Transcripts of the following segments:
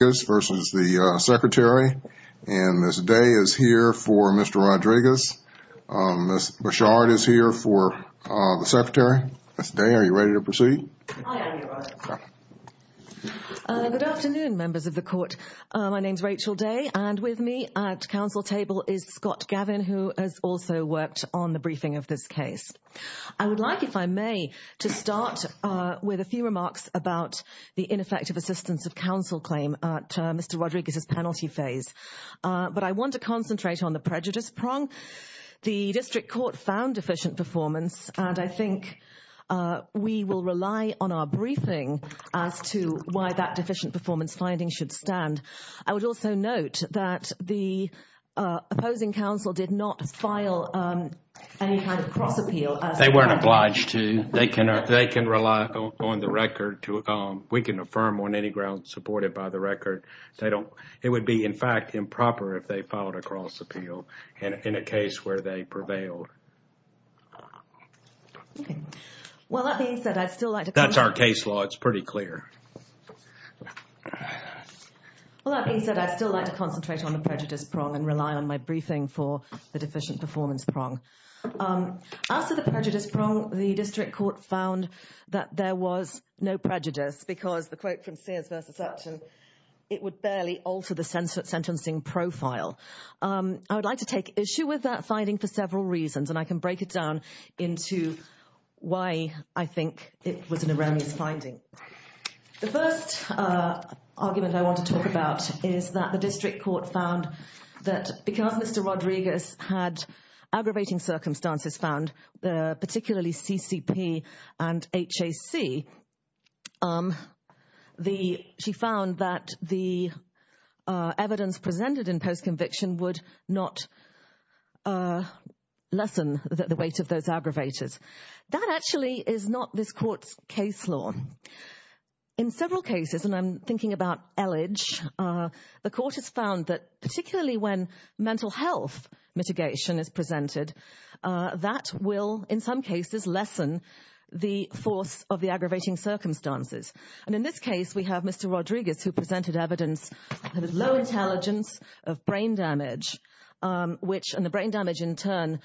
Ms. Day is here for Mr. Rodriguez. Ms. Bouchard is here for the Secretary. Ms. Day, are you ready to proceed? I am, Your Honor. Good afternoon, members of the Court. My name is Rachel Day, and with me at Council table is Scott Gavin, who has also worked on the briefing of this case. I would like, if I may, to start with a few remarks about the ineffective assistance of Council claim at Mr. Rodriguez's penalty phase. But I want to concentrate on the prejudice prong. The District Court found deficient performance, and I think we will rely on our briefing as to why that deficient performance finding should stand. I would also note that the opposing Council did not file any kind of cross appeal. They were not obliged to. They can rely on the record. We can affirm on any grounds supported by the record. It would be, in fact, improper if they filed a cross appeal in a case where they prevailed. Okay. Well, that being said, I'd still like to... That's our case law. It's pretty clear. Well, that being said, I'd still like to concentrate on the prejudice prong and rely on my briefing for the deficient performance prong. As to the prejudice prong, the District Court found that there was no prejudice because the quote from Sears v. Sutton, it would barely alter the sentencing profile. I would like to take issue with that finding for several reasons, and I can break it down into why I think it was an erroneous finding. The first argument I want to talk about is that the District Court found that because Mr. Rodriguez had aggravating circumstances found, particularly CCP and HAC, she found that the evidence presented in post-conviction would not lessen the weight of those aggravators. That actually is not this court's case law. In several cases, and I'm thinking about Elledge, the court has found that particularly when mental health mitigation is presented, that will, in some cases, lessen the force of the aggravating circumstances. And in this case, we have Mr. Rodriguez who presented evidence of low intelligence of brain damage, which, and the brain damage in turn,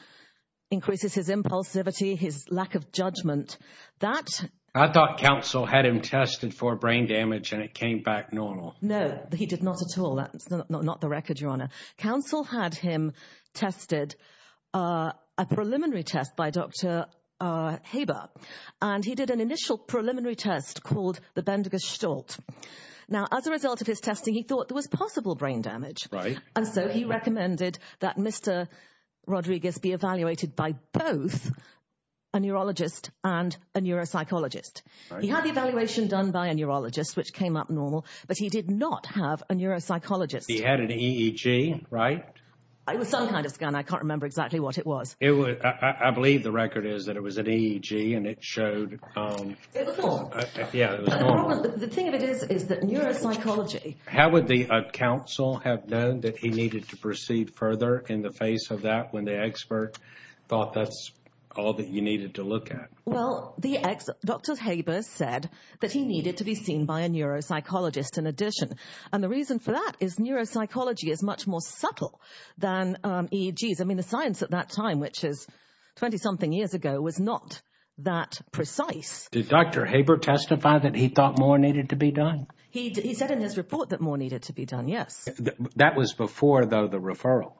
increases his impulsivity, his lack of judgment. I thought counsel had him tested for brain damage and it came back normal. No, he did not at all. That's not the record, Your Honor. Counsel had him tested, a preliminary test by Dr. Haber, and he did an initial preliminary test called the Bendigo Stolt. Now, as a result of his testing, he thought there was possible brain damage. And so he recommended that Mr. Rodriguez be evaluated by both a neurologist and a neuropsychologist. He had the evaluation done by a neurologist, which came up normal, but he did not have a neuropsychologist. He had an EEG, right? It was some kind of scan. I can't remember exactly what it was. I believe the record is that it was an EEG and it showed... It was normal. Yeah, it was normal. The thing of it is, is that neuropsychology... How would the counsel have known that he needed to proceed further in the face of that when the expert thought that's all that you needed to look at? Well, Dr. Haber said that he needed to be seen by a neuropsychologist in addition. And the reason for that is neuropsychology is much more subtle than EEGs. I mean, the science at that time, which is 20-something years ago, was not that precise. Did Dr. Haber testify that he thought more needed to be done? He said in his report that more needed to be done, yes. That was before, though, the referral.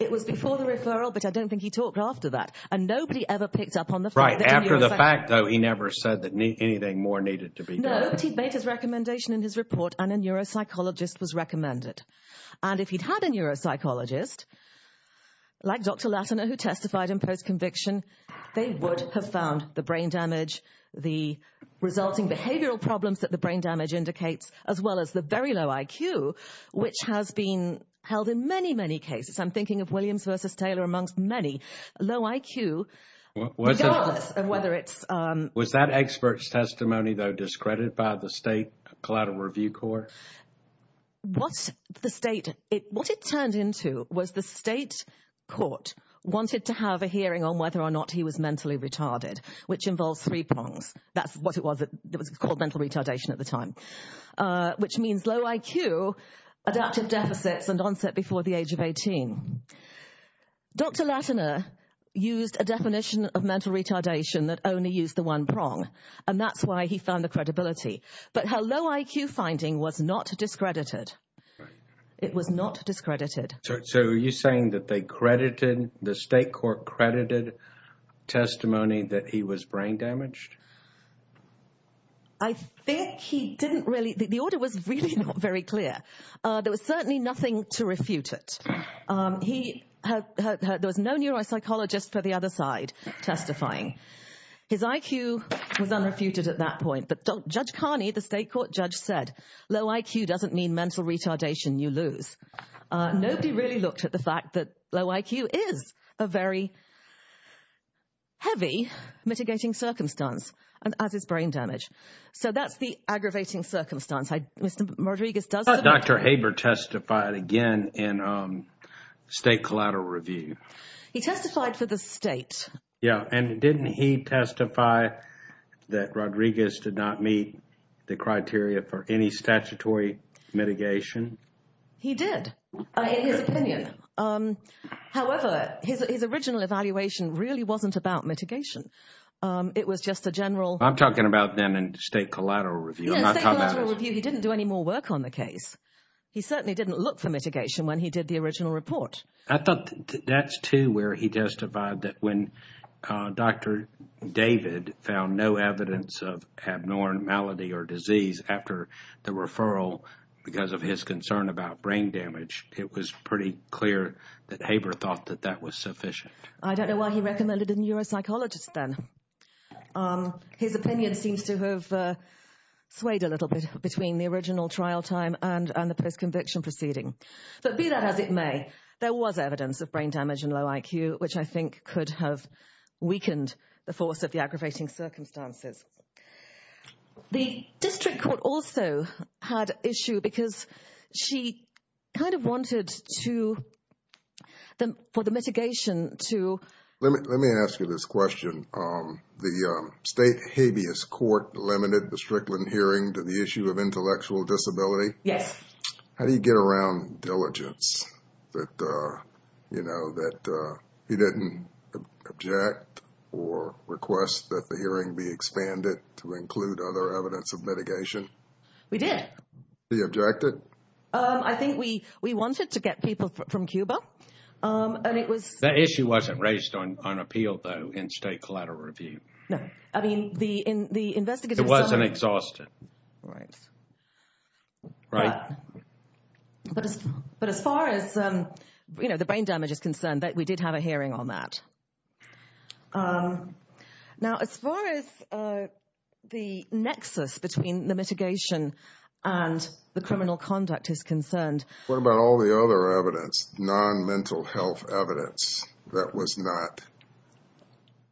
It was before the referral, but I don't think he talked after that. And nobody ever picked up on the fact that a neuropsychologist... Right, after the fact, though, he never said that anything more needed to be done. No, but he made his recommendation in his report and a neuropsychologist was recommended. And if he'd had a neuropsychologist, like Dr. Latimer, who testified in post-conviction, they would have found the brain damage, the resulting behavioral problems that the brain damage indicates, as well as the very low IQ, which has been held in many, many cases. I'm thinking of Williams versus Taylor amongst many. Low IQ, regardless of whether it's... Was that expert's testimony, though, discredited by the State Collateral Review Court? What it turned into was the state court wanted to have a hearing on whether or not he was mentally retarded, which involves three prongs. That's what it was. It was called mental retardation at the time, which means low IQ, adaptive deficits, and onset before the age of 18. Dr. Latimer used a definition of mental retardation that only used the one prong, and that's why he found the credibility. But her low IQ finding was not discredited. It was not discredited. So are you saying that they credited, the state court credited testimony that he was brain damaged? I think he didn't really... The order was really not very clear. There was certainly nothing to refute it. He... There was no neuropsychologist for the other side testifying. His IQ was unrefuted at that point. But Judge Carney, the state court judge, said, low IQ doesn't mean mental retardation, you lose. Nobody really looked at the fact that low IQ is a very heavy mitigating circumstance, as is brain damage. So that's the aggravating circumstance. Mr. Rodriguez does... I thought Dr. Haber testified again in State Collateral Review. He testified for the state. Yeah, and didn't he testify that Rodriguez did not meet the criteria for any statutory mitigation? He did, in his opinion. However, his original evaluation really wasn't about mitigation. It was just a general... I'm talking about them in State Collateral Review. Yeah, State Collateral Review, he didn't do any more work on the case. He certainly didn't look for mitigation when he did the original report. I thought that's too where he testified that when Dr. David found no evidence of abnormality or disease after the referral because of his concern about brain damage, it was pretty clear that Haber thought that that was sufficient. I don't know why he recommended a neuropsychologist then. His opinion seems to have swayed a little bit between the original trial time and the post-conviction proceeding. But be that as it may, there was evidence of brain damage and low IQ, which I think could have weakened the force of the aggravating circumstances. The district court also had issue because she kind of wanted for the mitigation to... Let me ask you this question. The state habeas court limited the Strickland hearing to the issue of intellectual disability? Yes. How do you get around diligence that, you know, that he didn't object or request that the hearing be expanded to include other evidence of mitigation? We did. He objected? I think we wanted to get people from Cuba. The issue wasn't raised on appeal, though, in State Collateral Review. No. I mean, the investigators... It wasn't exhausted. Right. But as far as, you know, the brain damage is concerned, we did have a hearing on that. Now, as far as the nexus between the mitigation and the criminal conduct is concerned... What about all the other evidence, non-mental health evidence that was not...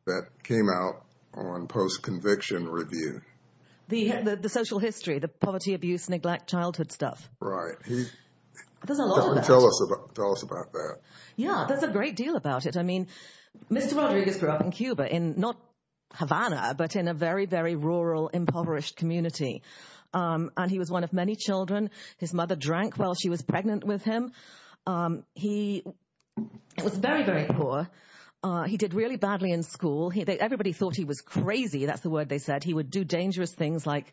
that came out on post-conviction review? The social history, the poverty, abuse, neglect, childhood stuff. Right. There's a lot of that. Tell us about that. Yeah, there's a great deal about it. I mean, Mr. Rodriguez grew up in Cuba, not Havana, but in a very, very rural, impoverished community. And he was one of many children. His mother drank while she was pregnant with him. He was very, very poor. He did really badly in school. Everybody thought he was crazy. That's the word they said. He would do dangerous things like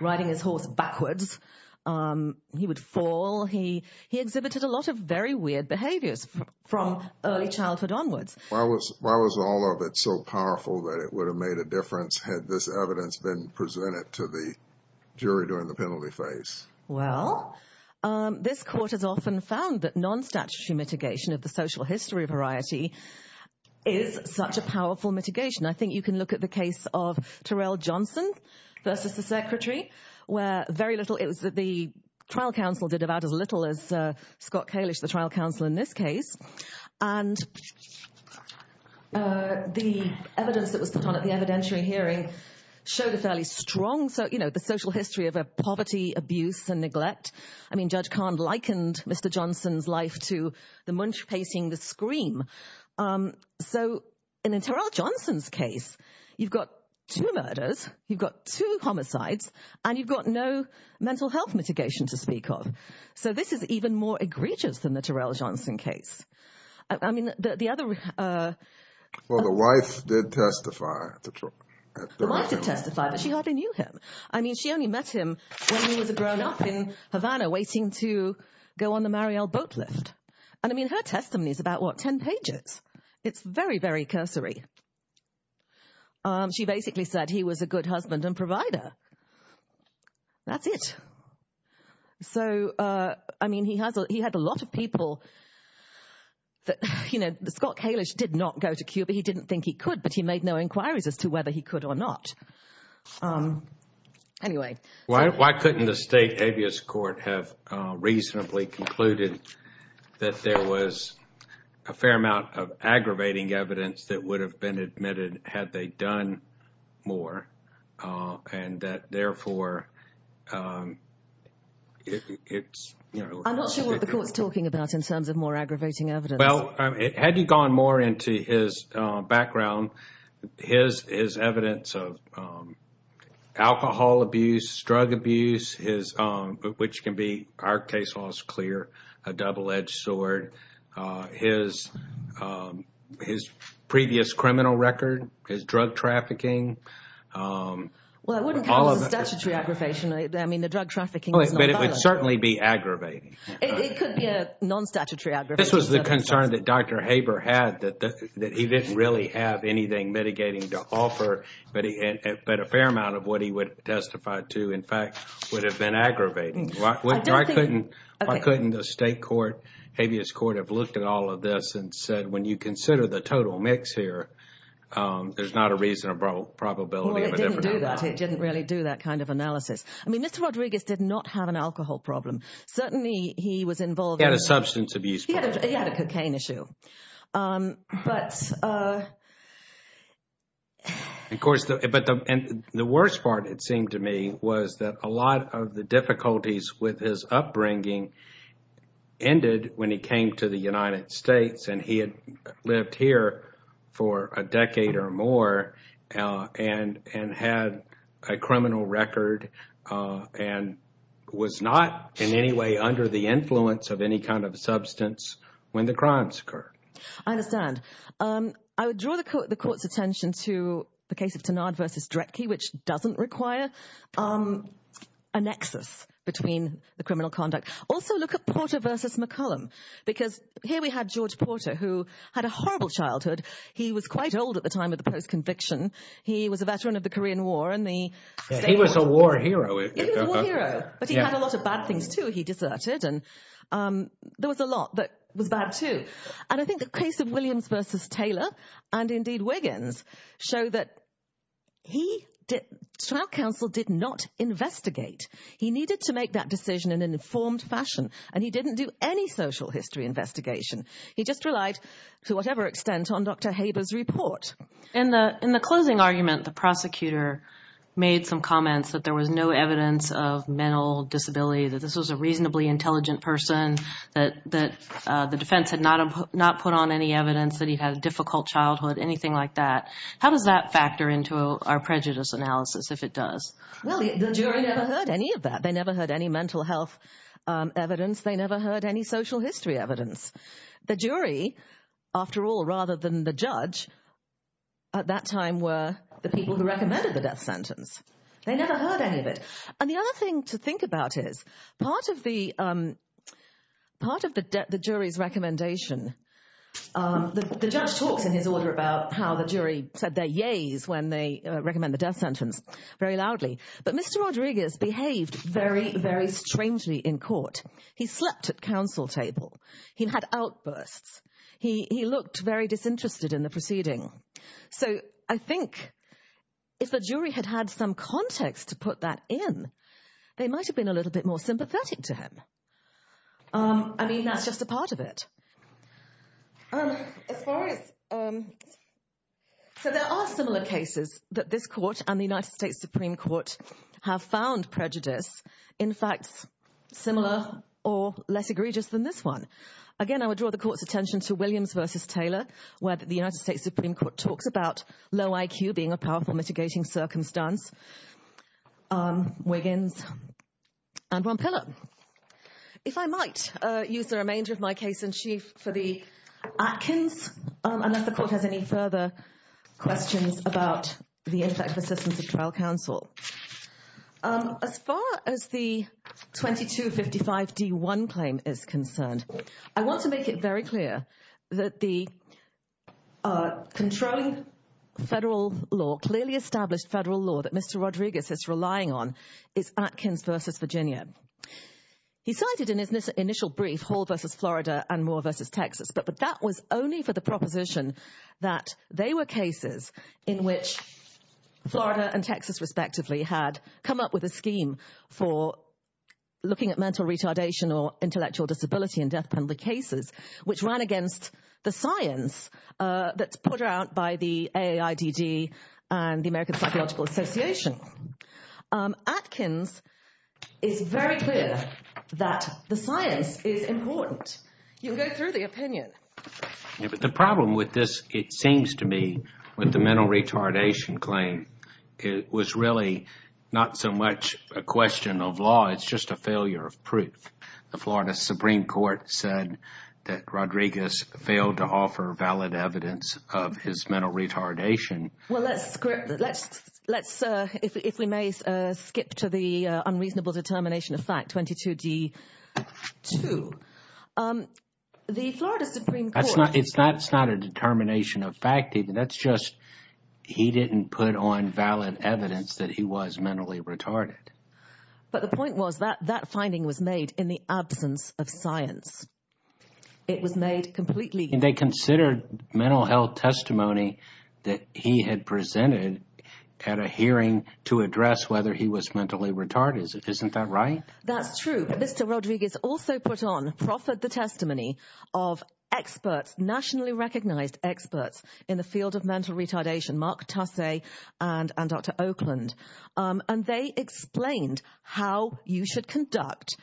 riding his horse backwards. He would fall. He exhibited a lot of very weird behaviors from early childhood onwards. Why was all of it so powerful that it would have made a difference had this evidence been presented to the jury during the penalty phase? Well, this court has often found that non-statutory mitigation of the social history variety is such a powerful mitigation. I think you can look at the case of Terrell Johnson versus the secretary, where very little. The trial counsel did about as little as Scott Kalish, the trial counsel in this case. And the evidence that was put on at the evidentiary hearing showed a fairly strong social history of poverty, abuse, and neglect. I mean, Judge Kahn likened Mr. Johnson's life to the munch pacing, the scream. So in Terrell Johnson's case, you've got two murders, you've got two homicides, and you've got no mental health mitigation to speak of. So this is even more egregious than the Terrell Johnson case. I mean, the other. Well, the wife did testify. The wife did testify, but she hardly knew him. I mean, she only met him when he was a grown up in Havana waiting to go on the Marielle boat lift. And I mean, her testimony is about, what, 10 pages. It's very, very cursory. She basically said he was a good husband and provider. That's it. So, I mean, he had a lot of people that, you know, Scott Kalish did not go to Cuba. He didn't think he could, but he made no inquiries as to whether he could or not. Anyway. Why couldn't the state habeas court have reasonably concluded that there was a fair amount of aggravating evidence that would have been admitted had they done more and that, therefore, it's... I'm not sure what the court's talking about in terms of more aggravating evidence. Well, had you gone more into his background, his evidence of alcohol abuse, drug abuse, which can be, our case law is clear, a double-edged sword, his previous criminal record, his drug trafficking. Well, it wouldn't come as a statutory aggravation. I mean, the drug trafficking was not violent. But it would certainly be aggravating. It could be a non-statutory aggravation. The concern that Dr. Haber had that he didn't really have anything mitigating to offer, but a fair amount of what he would testify to, in fact, would have been aggravating. Why couldn't the state court, habeas court, have looked at all of this and said, when you consider the total mix here, there's not a reasonable probability. Well, it didn't do that. It didn't really do that kind of analysis. I mean, Mr. Rodriguez did not have an alcohol problem. Certainly, he was involved in... He had a substance abuse problem. That's an issue. But... Of course, but the worst part, it seemed to me, was that a lot of the difficulties with his upbringing ended when he came to the United States, and he had lived here for a decade or more and had a criminal record and was not in any way under the influence of any kind of substance when the crime started. I understand. I would draw the court's attention to the case of Tanard v. Drecke, which doesn't require a nexus between the criminal conduct. Also, look at Porter v. McCollum, because here we had George Porter, who had a horrible childhood. He was quite old at the time of the post-conviction. He was a veteran of the Korean War. He was a war hero. He was a war hero, but he had a lot of bad things, too. He deserted, and there was a lot that was bad, too. And I think the case of Williams v. Taylor, and indeed Wiggins, show that trial counsel did not investigate. He needed to make that decision in an informed fashion, and he didn't do any social history investigation. He just relied, to whatever extent, on Dr. Haber's report. In the closing argument, the prosecutor made some comments that there was no evidence of mental disability, that this was a reasonably intelligent person, that the defense had not put on any evidence, that he had a difficult childhood, anything like that. How does that factor into our prejudice analysis, if it does? Well, the jury never heard any of that. They never heard any mental health evidence. They never heard any social history evidence. The jury, after all, rather than the judge, at that time were the people who recommended the death sentence. They never heard any of it. And the other thing to think about is, part of the jury's recommendation, the judge talks in his order about how the jury said their yeas when they recommend the death sentence very loudly, but Mr. Rodriguez behaved very, very strangely in court. He slept at counsel table. He had outbursts. He looked very disinterested in the proceeding. So I think if the jury had had some context to put that in, they might have been a little bit more sympathetic to him. I mean, that's just a part of it. So there are similar cases that this court and the United States Supreme Court have found prejudice, in fact, similar or less egregious than this one. I would now draw the court's attention to Williams v. Taylor, where the United States Supreme Court talks about low IQ being a powerful mitigating circumstance. Wiggins and Von Piller. If I might use the remainder of my case in chief for the Atkins, unless the court has any further questions about the impact of assistance of trial counsel. As far as the 2255 D1 claim is concerned, I want to make it very clear that the controlling federal law, clearly established federal law that Mr. Rodriguez is relying on, is Atkins v. Virginia. He cited in his initial brief Hall v. Florida and Moore v. Texas, but that was only for the proposition that they were cases in which Florida and Texas respectively had come up with a scheme for looking at mental retardation or intellectual disability in death penalty cases, which ran against the science that's put out by the AIDD and the American Psychological Association. Atkins is very clear that the science is important. You can go through the opinion. The problem with this, it seems to me, with the mental retardation claim, it was really not so much a question of law. It's just a failure of proof. The Florida Supreme Court said that Rodriguez failed to offer valid evidence of his mental retardation. Well, let's, if we may skip to the unreasonable determination of fact, 22D2. The Florida Supreme Court... It's not a determination of fact either. That's just, he didn't put on valid evidence that he was mentally retarded. But the point was that that finding was made in the absence of science. It was made completely... They considered mental health testimony that he had presented at a hearing to address whether he was mentally retarded. Isn't that right? That's true. Mr. Rodriguez also put on, proffered the testimony of experts, nationally recognized experts in the field of mental retardation, Mark Tasse and Dr. Oakland. And they explained how you should conduct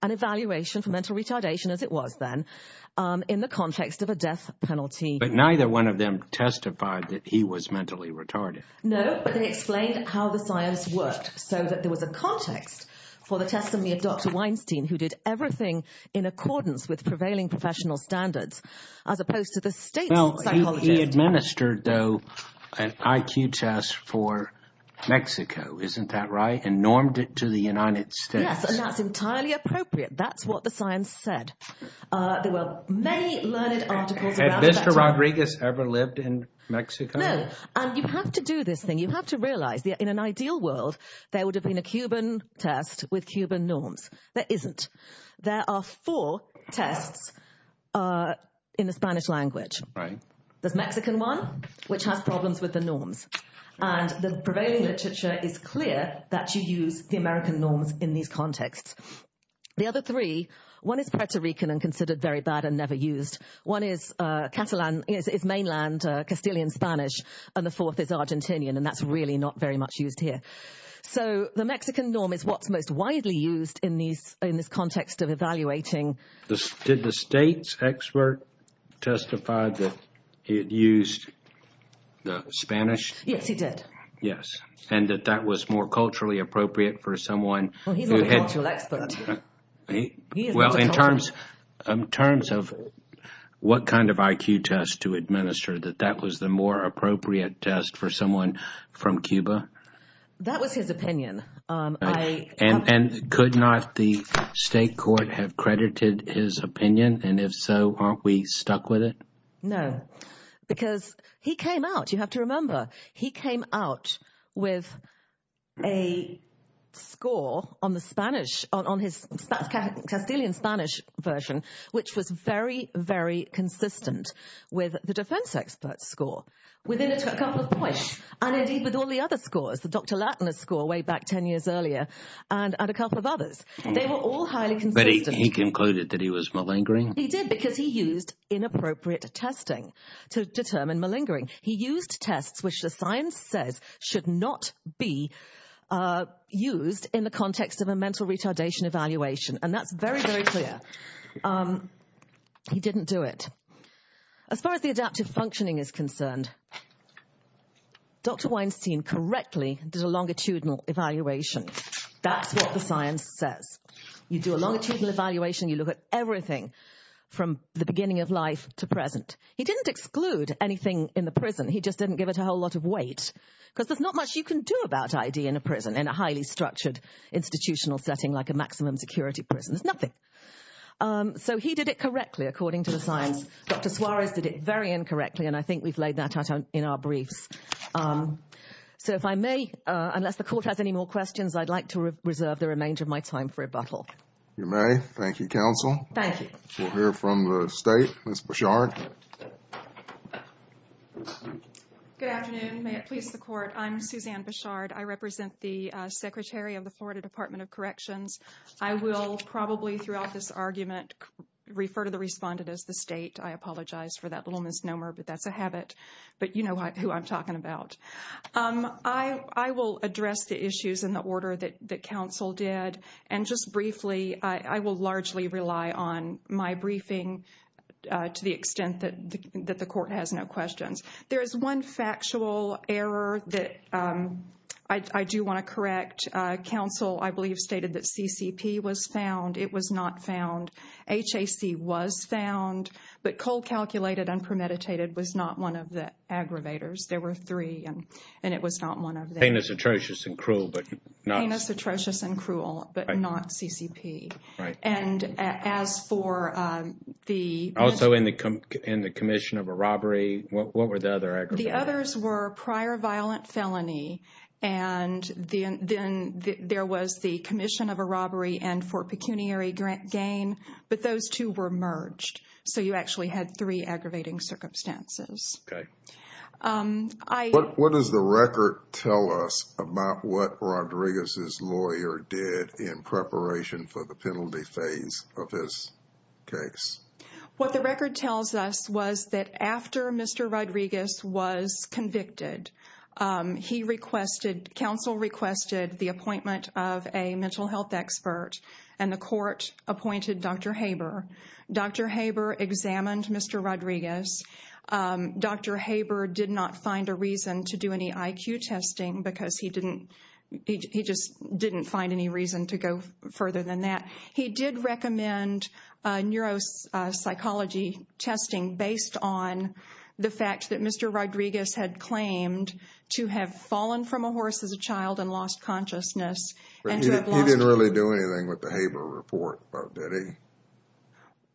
an evaluation for mental retardation as it was then in the context of a death penalty. But neither one of them testified that he was mentally retarded. No, but they explained how the science worked so that there was a context for the testimony of Dr. Weinstein who did everything in accordance with prevailing professional standards as opposed to the state psychologist. He administered, though, an IQ test for Mexico. Isn't that right? And normed it to the United States. Yes, and that's entirely appropriate. That's what the science said. There were many learned articles about that. Had Mr. Rodriguez ever lived in Mexico? No. And you have to do this thing. You have to realize that in an ideal world, there would have been a Cuban test with Cuban norms. There isn't. There are four tests in the Spanish language. There's Mexican one, which has problems with the norms. And the prevailing literature is clear that you use the American norms in these contexts. The other three, one is Puerto Rican and considered very bad and never used. One is mainland Castilian Spanish, and the fourth is Argentinian, and that's really not very much used here. So the Mexican norm is what's most widely used in this context of evaluating. Did the state's expert testify that he had used the Spanish? Yes, he did. Yes, and that that was more culturally appropriate for someone who had... Well, he's not a cultural expert. Well, in terms of what kind of IQ test to administer, that that was the more appropriate test for someone from Cuba? That was his opinion. And could not the state court have credited his opinion? And if so, aren't we stuck with it? No, because he came out, you have to remember, he came out with a score on the Spanish, on his Castilian Spanish version, which was very, very consistent with the defense expert score. Within a couple of points, and indeed with all the other scores, the Dr. Lattner score way back 10 years earlier, and a couple of others, they were all highly consistent. But he concluded that he was malingering? He did, because he used inappropriate testing to determine malingering. He used tests which the science says should not be used in the context of a mental retardation evaluation. And that's very, very clear. He didn't do it. As far as the adaptive functioning is concerned, Dr. Weinstein correctly did a longitudinal evaluation. That's what the science says. You do a longitudinal evaluation, you look at everything from the beginning of life to present. He didn't exclude anything in the prison. He just didn't give it a whole lot of weight, because there's not much you can do about ID in a prison, in a highly structured institutional setting like a maximum security prison. There's nothing. So he did it correctly, according to the science. Dr. Suarez did it very incorrectly, and I think we've laid that out in our briefs. So if I may, unless the court has any more questions, I'd like to reserve the remainder of my time for rebuttal. You may. Thank you, counsel. Thank you. We'll hear from the state, Ms. Bichard. Good afternoon. May it please the court, I'm Suzanne Bichard. I represent the Secretary of the Florida Department of Corrections. I will probably throughout this argument refer to the respondent as the state. I apologize for that little misnomer, that's a habit. But you know who I'm talking about. I will address the issues in the order that counsel did. And just briefly, I will largely rely on my briefing to the extent that the court has no questions. There is one factual error that I do want to correct. Counsel, I believe, stated that CCP was found. It was not found. HAC was found, but cold calculated and premeditated was not one of the aggravators. There were three, and it was not one of them. Penis atrocious and cruel, but not. Penis atrocious and cruel, but not CCP. Right. And as for the. Also in the commission of a robbery, what were the other aggravators? The others were prior violent felony, and then there was the commission of a robbery and for pecuniary gain, but those two were merged. So you actually had three aggravating circumstances. Okay. What does the record tell us about what Rodriguez's lawyer did in preparation for the penalty phase of his case? What the record tells us was that after Mr. Rodriguez was convicted, he requested, counsel requested the appointment of a mental health expert and the court appointed Dr. Haber. Dr. Haber examined Mr. Rodriguez. Dr. Haber did not find a reason to do any IQ testing because he didn't, he just didn't find any reason to go further than that. He did recommend neuropsychology testing based on the fact that Mr. Rodriguez had claimed to have fallen from a horse as a child and lost consciousness. He didn't really do anything with the Haber report, did he?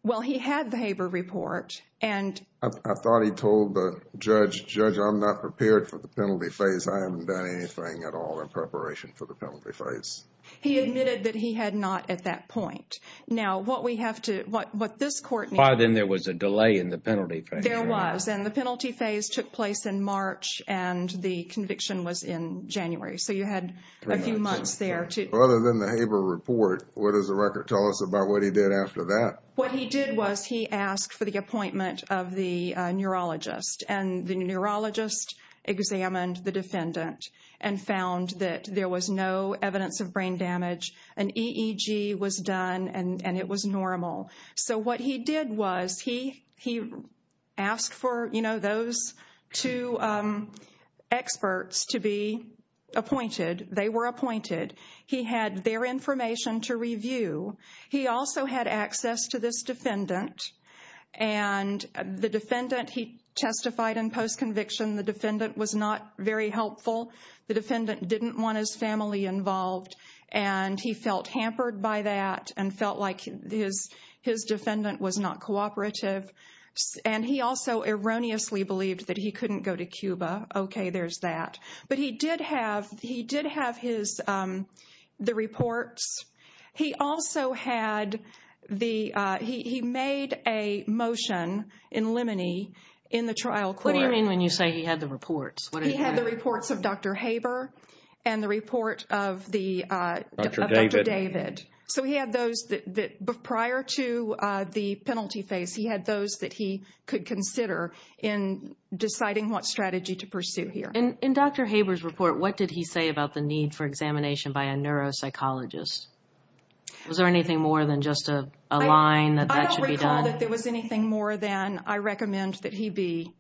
Well, he had the Haber report and... I thought he told the judge, Judge, I'm not prepared for the penalty phase. I haven't done anything at all in preparation for the penalty phase. He admitted that he had not at that point. Now, what we have to, what this court needs... Then there was a delay in the penalty phase. There was, and the penalty phase took place in March and the conviction was in January. So you had a few months there to... Other than the Haber report, what does the record tell us what he did was he asked for the appointment of the neurologist and the neurologist examined the defendant and found that there was no evidence of brain damage. An EEG was done and it was normal. So what he did was he asked for, you know, those two experts to be appointed. They were appointed. He had their information to review. He also had access to this defendant and the defendant, he testified in post-conviction. The defendant was not very helpful. The defendant didn't want his family involved and he felt hampered by that and felt like his defendant was not cooperative. And he also erroneously believed that he couldn't go to Cuba. Okay, there's that. But he did have his, the reports. He also had the, he made a motion in limine in the trial court. What do you mean when you say he had the reports? He had the reports of Dr. Haber and the report of the... Dr. David. So he had those that, prior to the penalty phase, he had those that he could consider in deciding what strategy to pursue here. In Dr. Haber's report, what did he say about the need for examination by a neuropsychologist? Was there anything more than just a line that that should be done? I don't recall that there was anything more than I recommend that he be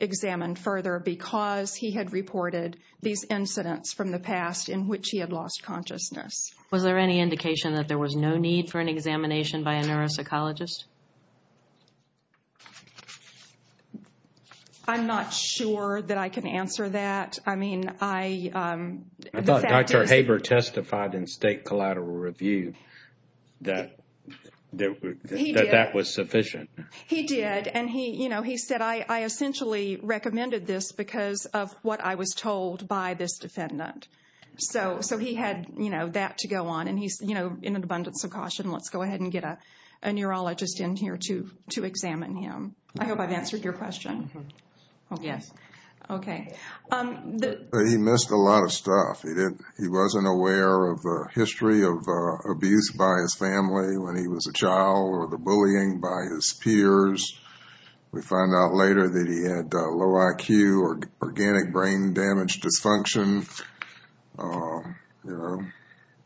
examined further because he had reported these incidents from the past in which he had lost consciousness. Was there any indication that there was no need for an examination by a neuropsychologist? I'm not sure that I can answer that. I mean, I... I thought Dr. Haber testified in State Collateral Review that that was sufficient. He did. And he said, I essentially recommended this because of what I was told by this defendant. So he had that to go on. And he's in an abundance of caution. Let's go ahead and get a neurologist in here to examine him. I hope I've answered your question. Yes. Okay. He missed a lot of stuff. He wasn't aware of the history of abuse by his family when he was a child or the bullying by his peers. We find out later that he had low IQ or organic brain damage dysfunction.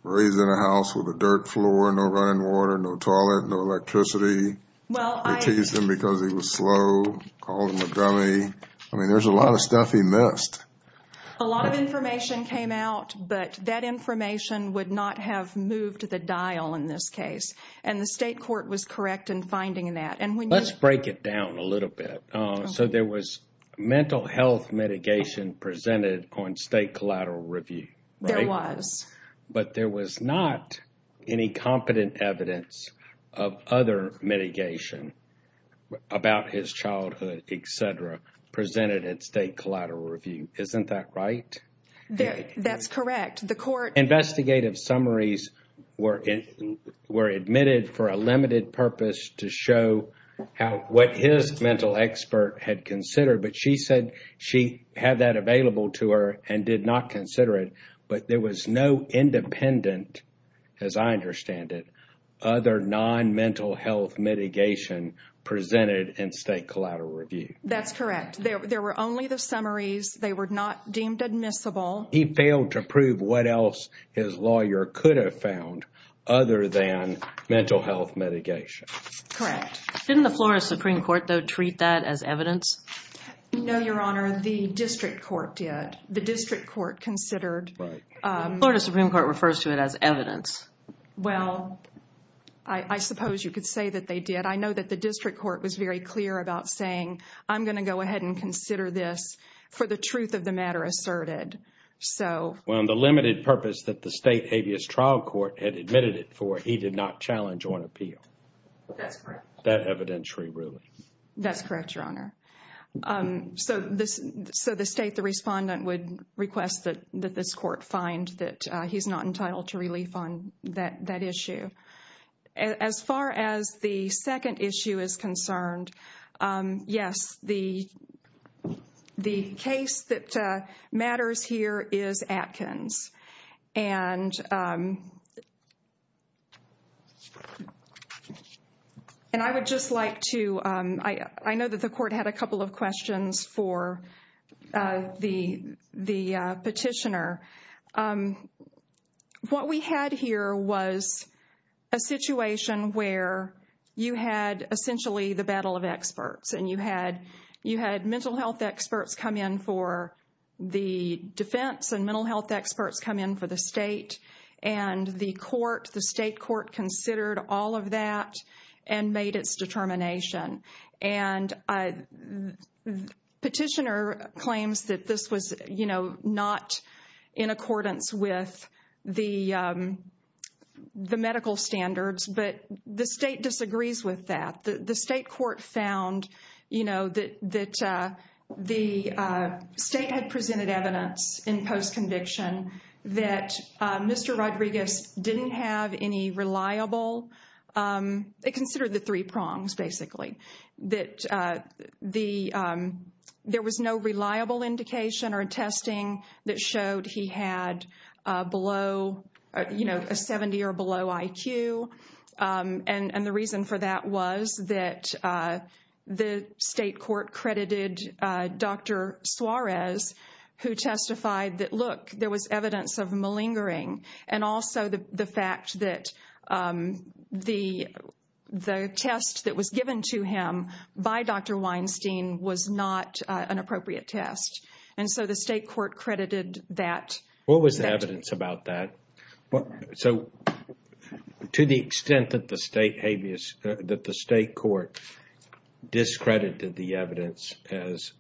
Raised in a house with a dirt floor, no running water, no toilet, no electricity. They teased him because he was slow, called him a dummy. I mean, there's a lot of stuff he missed. A lot of information came out, but that information would not have moved the dial in this case. And the state court was correct in finding that. Let's break it down a little bit. So there was mental health mitigation presented on State Collateral Review. There was. But there was not any competent evidence of other mitigation about his childhood, etc. Presented at State Collateral Review. Isn't that right? That's correct. Investigative summaries were admitted for a limited purpose to show what his mental expert had considered. But she said she had that available to her and did not consider it. But there was no independent, as I understand it, other non-mental health mitigation presented in State Collateral Review. That's correct. There were only the summaries. They were not deemed admissible. He failed to prove what else his lawyer could have found other than mental health mitigation. Correct. Didn't the Florida Supreme Court, though, treat that as evidence? No, Your Honor. The district court did. The district court considered. Florida Supreme Court refers to it as evidence. Well, I suppose you could say that they did. I know that the district court was very clear about saying I'm going to go ahead and consider this for the truth of the matter asserted. So... Well, the limited purpose that the state habeas trial court had admitted it for, he did not challenge or appeal. That's correct. That evidentiary ruling. That's correct, Your Honor. So the state, the respondent, would request that this court find that he's not entitled to relief on that issue. As far as the second issue is concerned, yes, the case that matters here is Atkins. And... And I would just like to... I know that the court had a couple of questions for the petitioner. What we had here was a situation where you had essentially the battle of experts. And you had mental health experts come in for the defense and mental health experts come in for the state. And the court, the state court, considered all of that and made its determination. And... Petitioner claims that this was, you know, not in accordance with the medical standards. But the state disagrees with that. And the state court found, you know, that the state had presented evidence in post-conviction that Mr. Rodriguez didn't have any reliable... They considered the three prongs, basically. That the... There was no reliable indication or testing that showed he had below, you know, a 70 or below IQ. And the reason for that was that the state court credited Dr. Suarez who testified that, look, there was evidence of malingering. And also the fact that the... the test that was given to him by Dr. Weinstein was not an appropriate test. And so the state court credited that... What was the evidence about that? So... To the extent that the state habeas... That the state court discredited the evidence as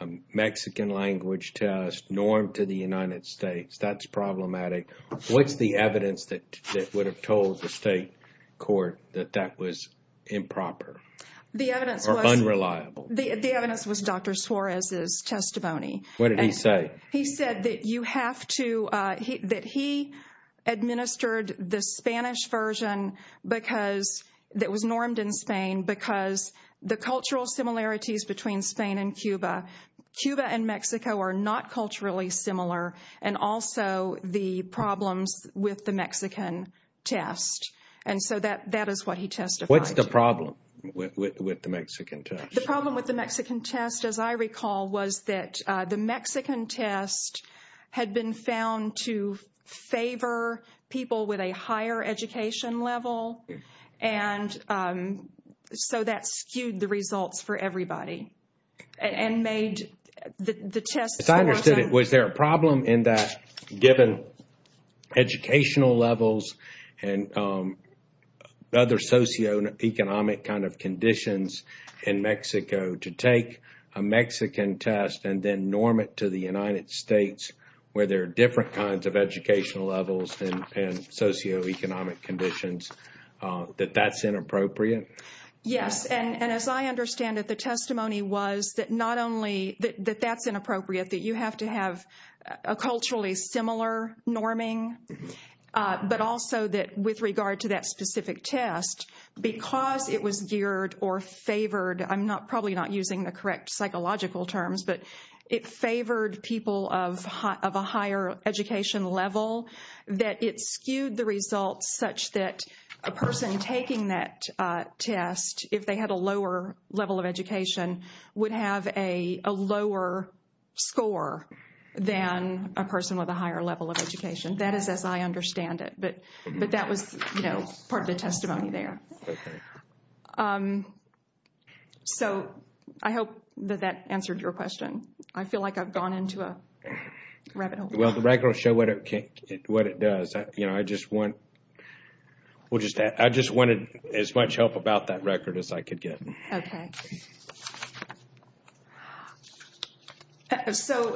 a Mexican language test normed to the United States, that's problematic. What's the evidence that would have told the state court that that was improper? The evidence was... Or unreliable? The evidence was Dr. Suarez's testimony. What did he say? He said that you have to... That he administered the Spanish version because... that was normed in Spain because the cultural similarities between Spain and Cuba... Cuba and Mexico are not culturally similar and also the problems with the Mexican test. And so that is what he testified. What's the problem with the Mexican test? The problem with the Mexican test, as I recall, was that the Mexican test had been found to favor people with a higher education level. And... So that skewed the results for everybody and made the test... As I understood it, was there a problem in that given educational levels and other socioeconomic kind of conditions in Mexico to take a Mexican test and then norm it to the United States where there are different kinds of educational levels and socioeconomic conditions that that's inappropriate? Yes. And as I understand it, the testimony was that not only that that's inappropriate, that you have to have a culturally similar norming, but also that with regard to that specific test, because it was geared or favored... I'm not... probably not using the correct psychological terms, but it favored people of a higher education level that it skewed the results such that a person taking that test, if they had a lower level of education, would have a lower score than a person with a higher level of education. That is as I understand it, but that was part of the testimony there. So I hope that that answered your question. I feel like I've gone into a rabbit hole. Well, the record will show what it does. I just want... I just wanted as much help about that record as I could get. Okay. So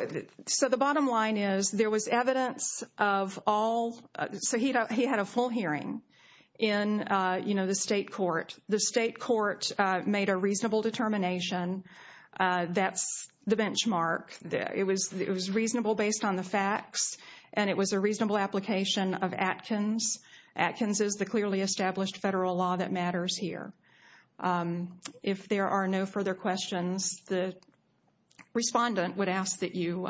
the bottom line is there was evidence of all... So he had a full hearing in the State Court. The State Court made a reasonable determination. That's the benchmark. It was reasonable based on the facts, and it was a reasonable application of Atkins. Atkins is the clearly established federal law that matters here. If there are no further questions, the respondent would ask that you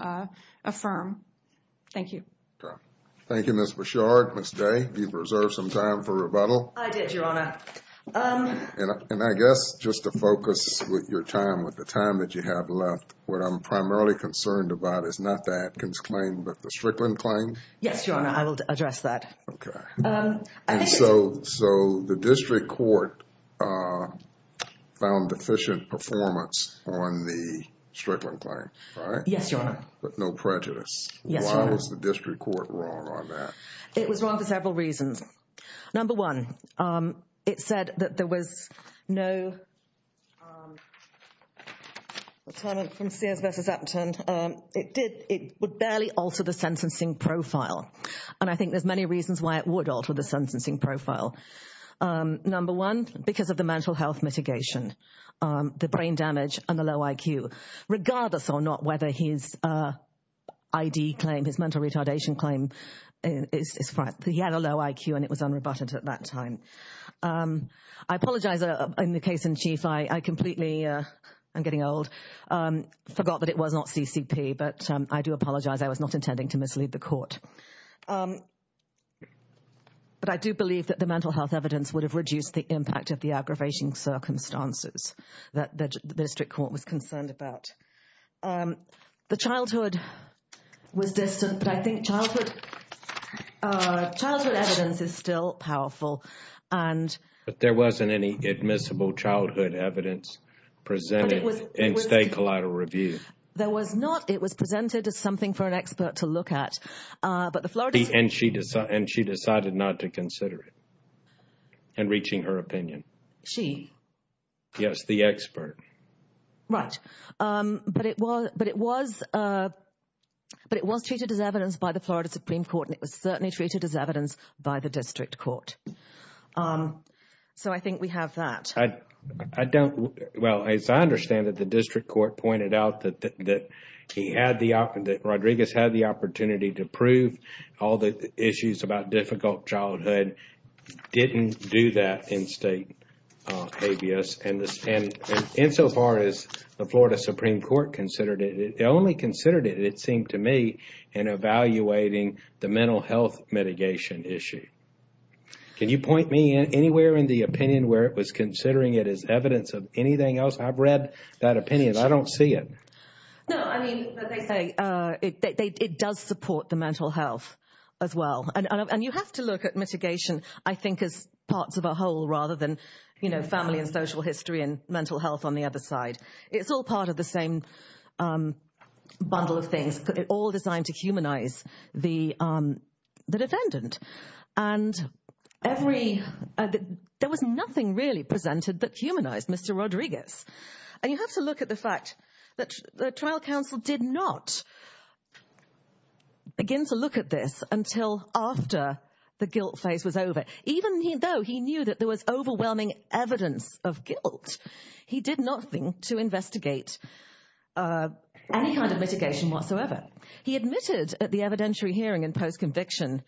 affirm. Thank you. Thank you, Ms. Bouchard. Ms. Day, you've reserved some time for rebuttal. I did, Your Honor. And I guess just to focus your time with the time that you have left, what I'm primarily concerned about is not the Atkins claim, but the Strickland claim? Yes, Your Honor. I will address that. Okay. And so the District Court found deficient performance on the Strickland claim, right? Yes, Your Honor. But no prejudice. Yes, Your Honor. Why was the District Court wrong on that? It was wrong for several reasons. Number one, it said that there was no deterrent from Sears v. Upton. It would barely alter the sentencing profile. And I think there's many reasons why it would alter the sentencing profile. Number one, because of the mental health mitigation, the brain damage, and the low IQ, regardless or not whether his mental retardation claim is right. He had a low IQ and it was unrebutted at that time. I apologize in the case in chief. I completely am getting old. I forgot that it was not CCP, but I do apologize. I was not intending to mislead the court. But I do believe that the mental health evidence would have reduced the impact of the aggravating circumstances that the district court was concerned about. The childhood was distant, but I think there was something for an expert to look at. She decided not to consider it in reaching her opinion. She? Yes, the expert. Right. But it was treated as evidence by the Florida Supreme Court, and it was certainly treated as evidence by the district court. So I think we have that. I don't well, as I understand it, the district court pointed out that Rodriguez had the opportunity to prove all the issues about difficult childhood didn't do that in state habeas, and in so far as the Florida Supreme the district court did not support the mental health mitigation issue. Can you point me anywhere in the opinion where it was considering it as evidence of anything else? I've read that opinion. I don't see it. It does support the mental health as well. And you have to look at mitigation as parts of a whole rather than family and social history and mental health on the other side. It's all part of the same bundle of things, all designed to humanize the mental health issue. The trial counsel did not begin to look at this until after the guilt phase was over, even though he knew there was overwhelming evidence of guilt. He did nothing to investigate any kind of mitigation whatsoever. He admitted at the evidentiary hearing and post-conviction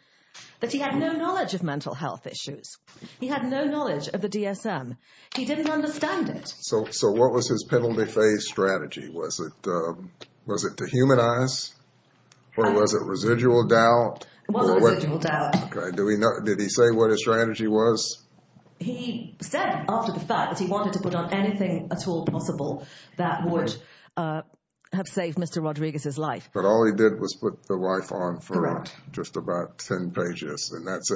that he had no knowledge of mental health issues. He had no knowledge of the DSM. He didn't understand it. So what was his penalty phase strategy? Was it to humanize? Or was it residual doubt? It was residual doubt. Did he say what his strategy was? He said after the fact that he wanted to put the life on for just about 10 pages. That's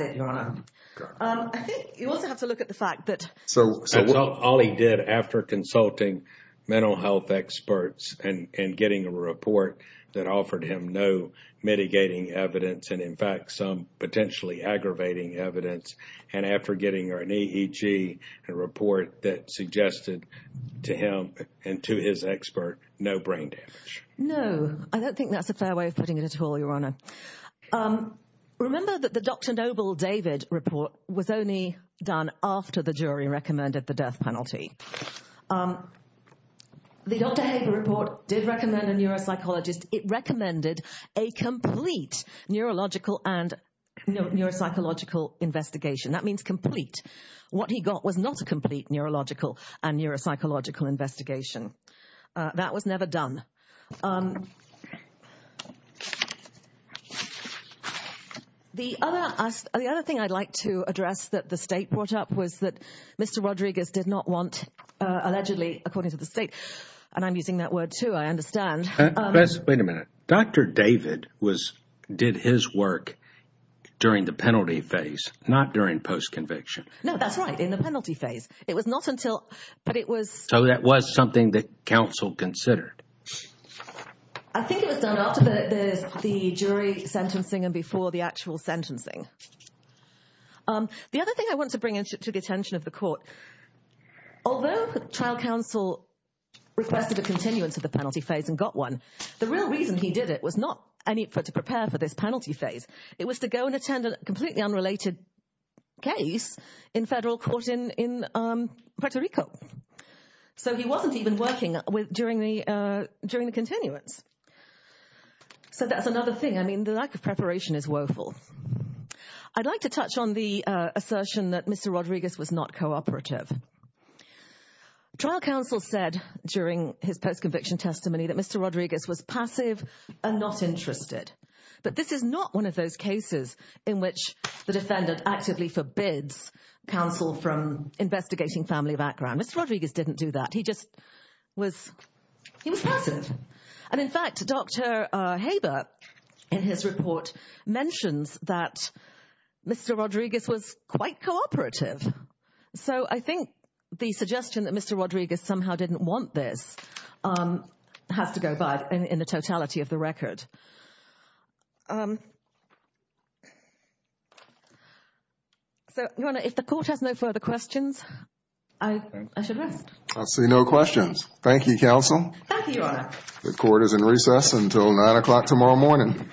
it. You also have to look at the fact that... All he did after consulting mental health experts and getting a report that offered him no mitigating evidence and in fact some potentially aggravating evidence and after getting a report that suggested to him and to his expert no brain damage. No. I don't think that's a fair way of putting it at all, Your Honor. Remember that the Dr. Noble David report was only done after the jury recommended the death penalty. The Dr. Haber report did recommend a neuropsychologist. It recommended a complete neurological and neuropsychological investigation. That means complete. What he got was not a complete neurological and neuropsychological investigation. That was never done. The other thing I'd like to address that the State brought up was that Mr. Rodriguez did not want allegedly, according to the State, and I'm using that word too, I understand. Wait a minute. Dr. David did his work during the penalty phase, not during post-conviction. No, that's right, in the penalty phase. It was not until... So that was something that counsel considered. I think it was done after the jury sentencing and before the actual sentencing. The other thing I want to bring to the attention of the court, although trial counsel requested a continuance of the penalty phase and got one, the real reason he did it was not to prepare for this penalty phase. It was to go and attend a completely unrelated case in federal court in Puerto Rico. So he wasn't even working during the continuance. So that's another thing. I mean, the lack of preparation is woeful. I'd like to touch on the assertion that Mr. Rodriguez was not cooperative. Trial counsel said during his post-conviction testimony that Mr. Rodriguez was passive and not interested. But this is not one of those cases in which the defendant actively forbids counsel from working. In fact, Dr. Haber in his report mentions that Mr. Rodriguez was quite cooperative. So I think the suggestion that Mr. Rodriguez somehow didn't want this has to go bad in the totality of the record. So, Your Honor, if the Court has no further questions, I should rest. I see no questions. Thank you, counsel. Thank you, Your Honor. The Court is in recess until 9 o'clock tomorrow morning. All rise.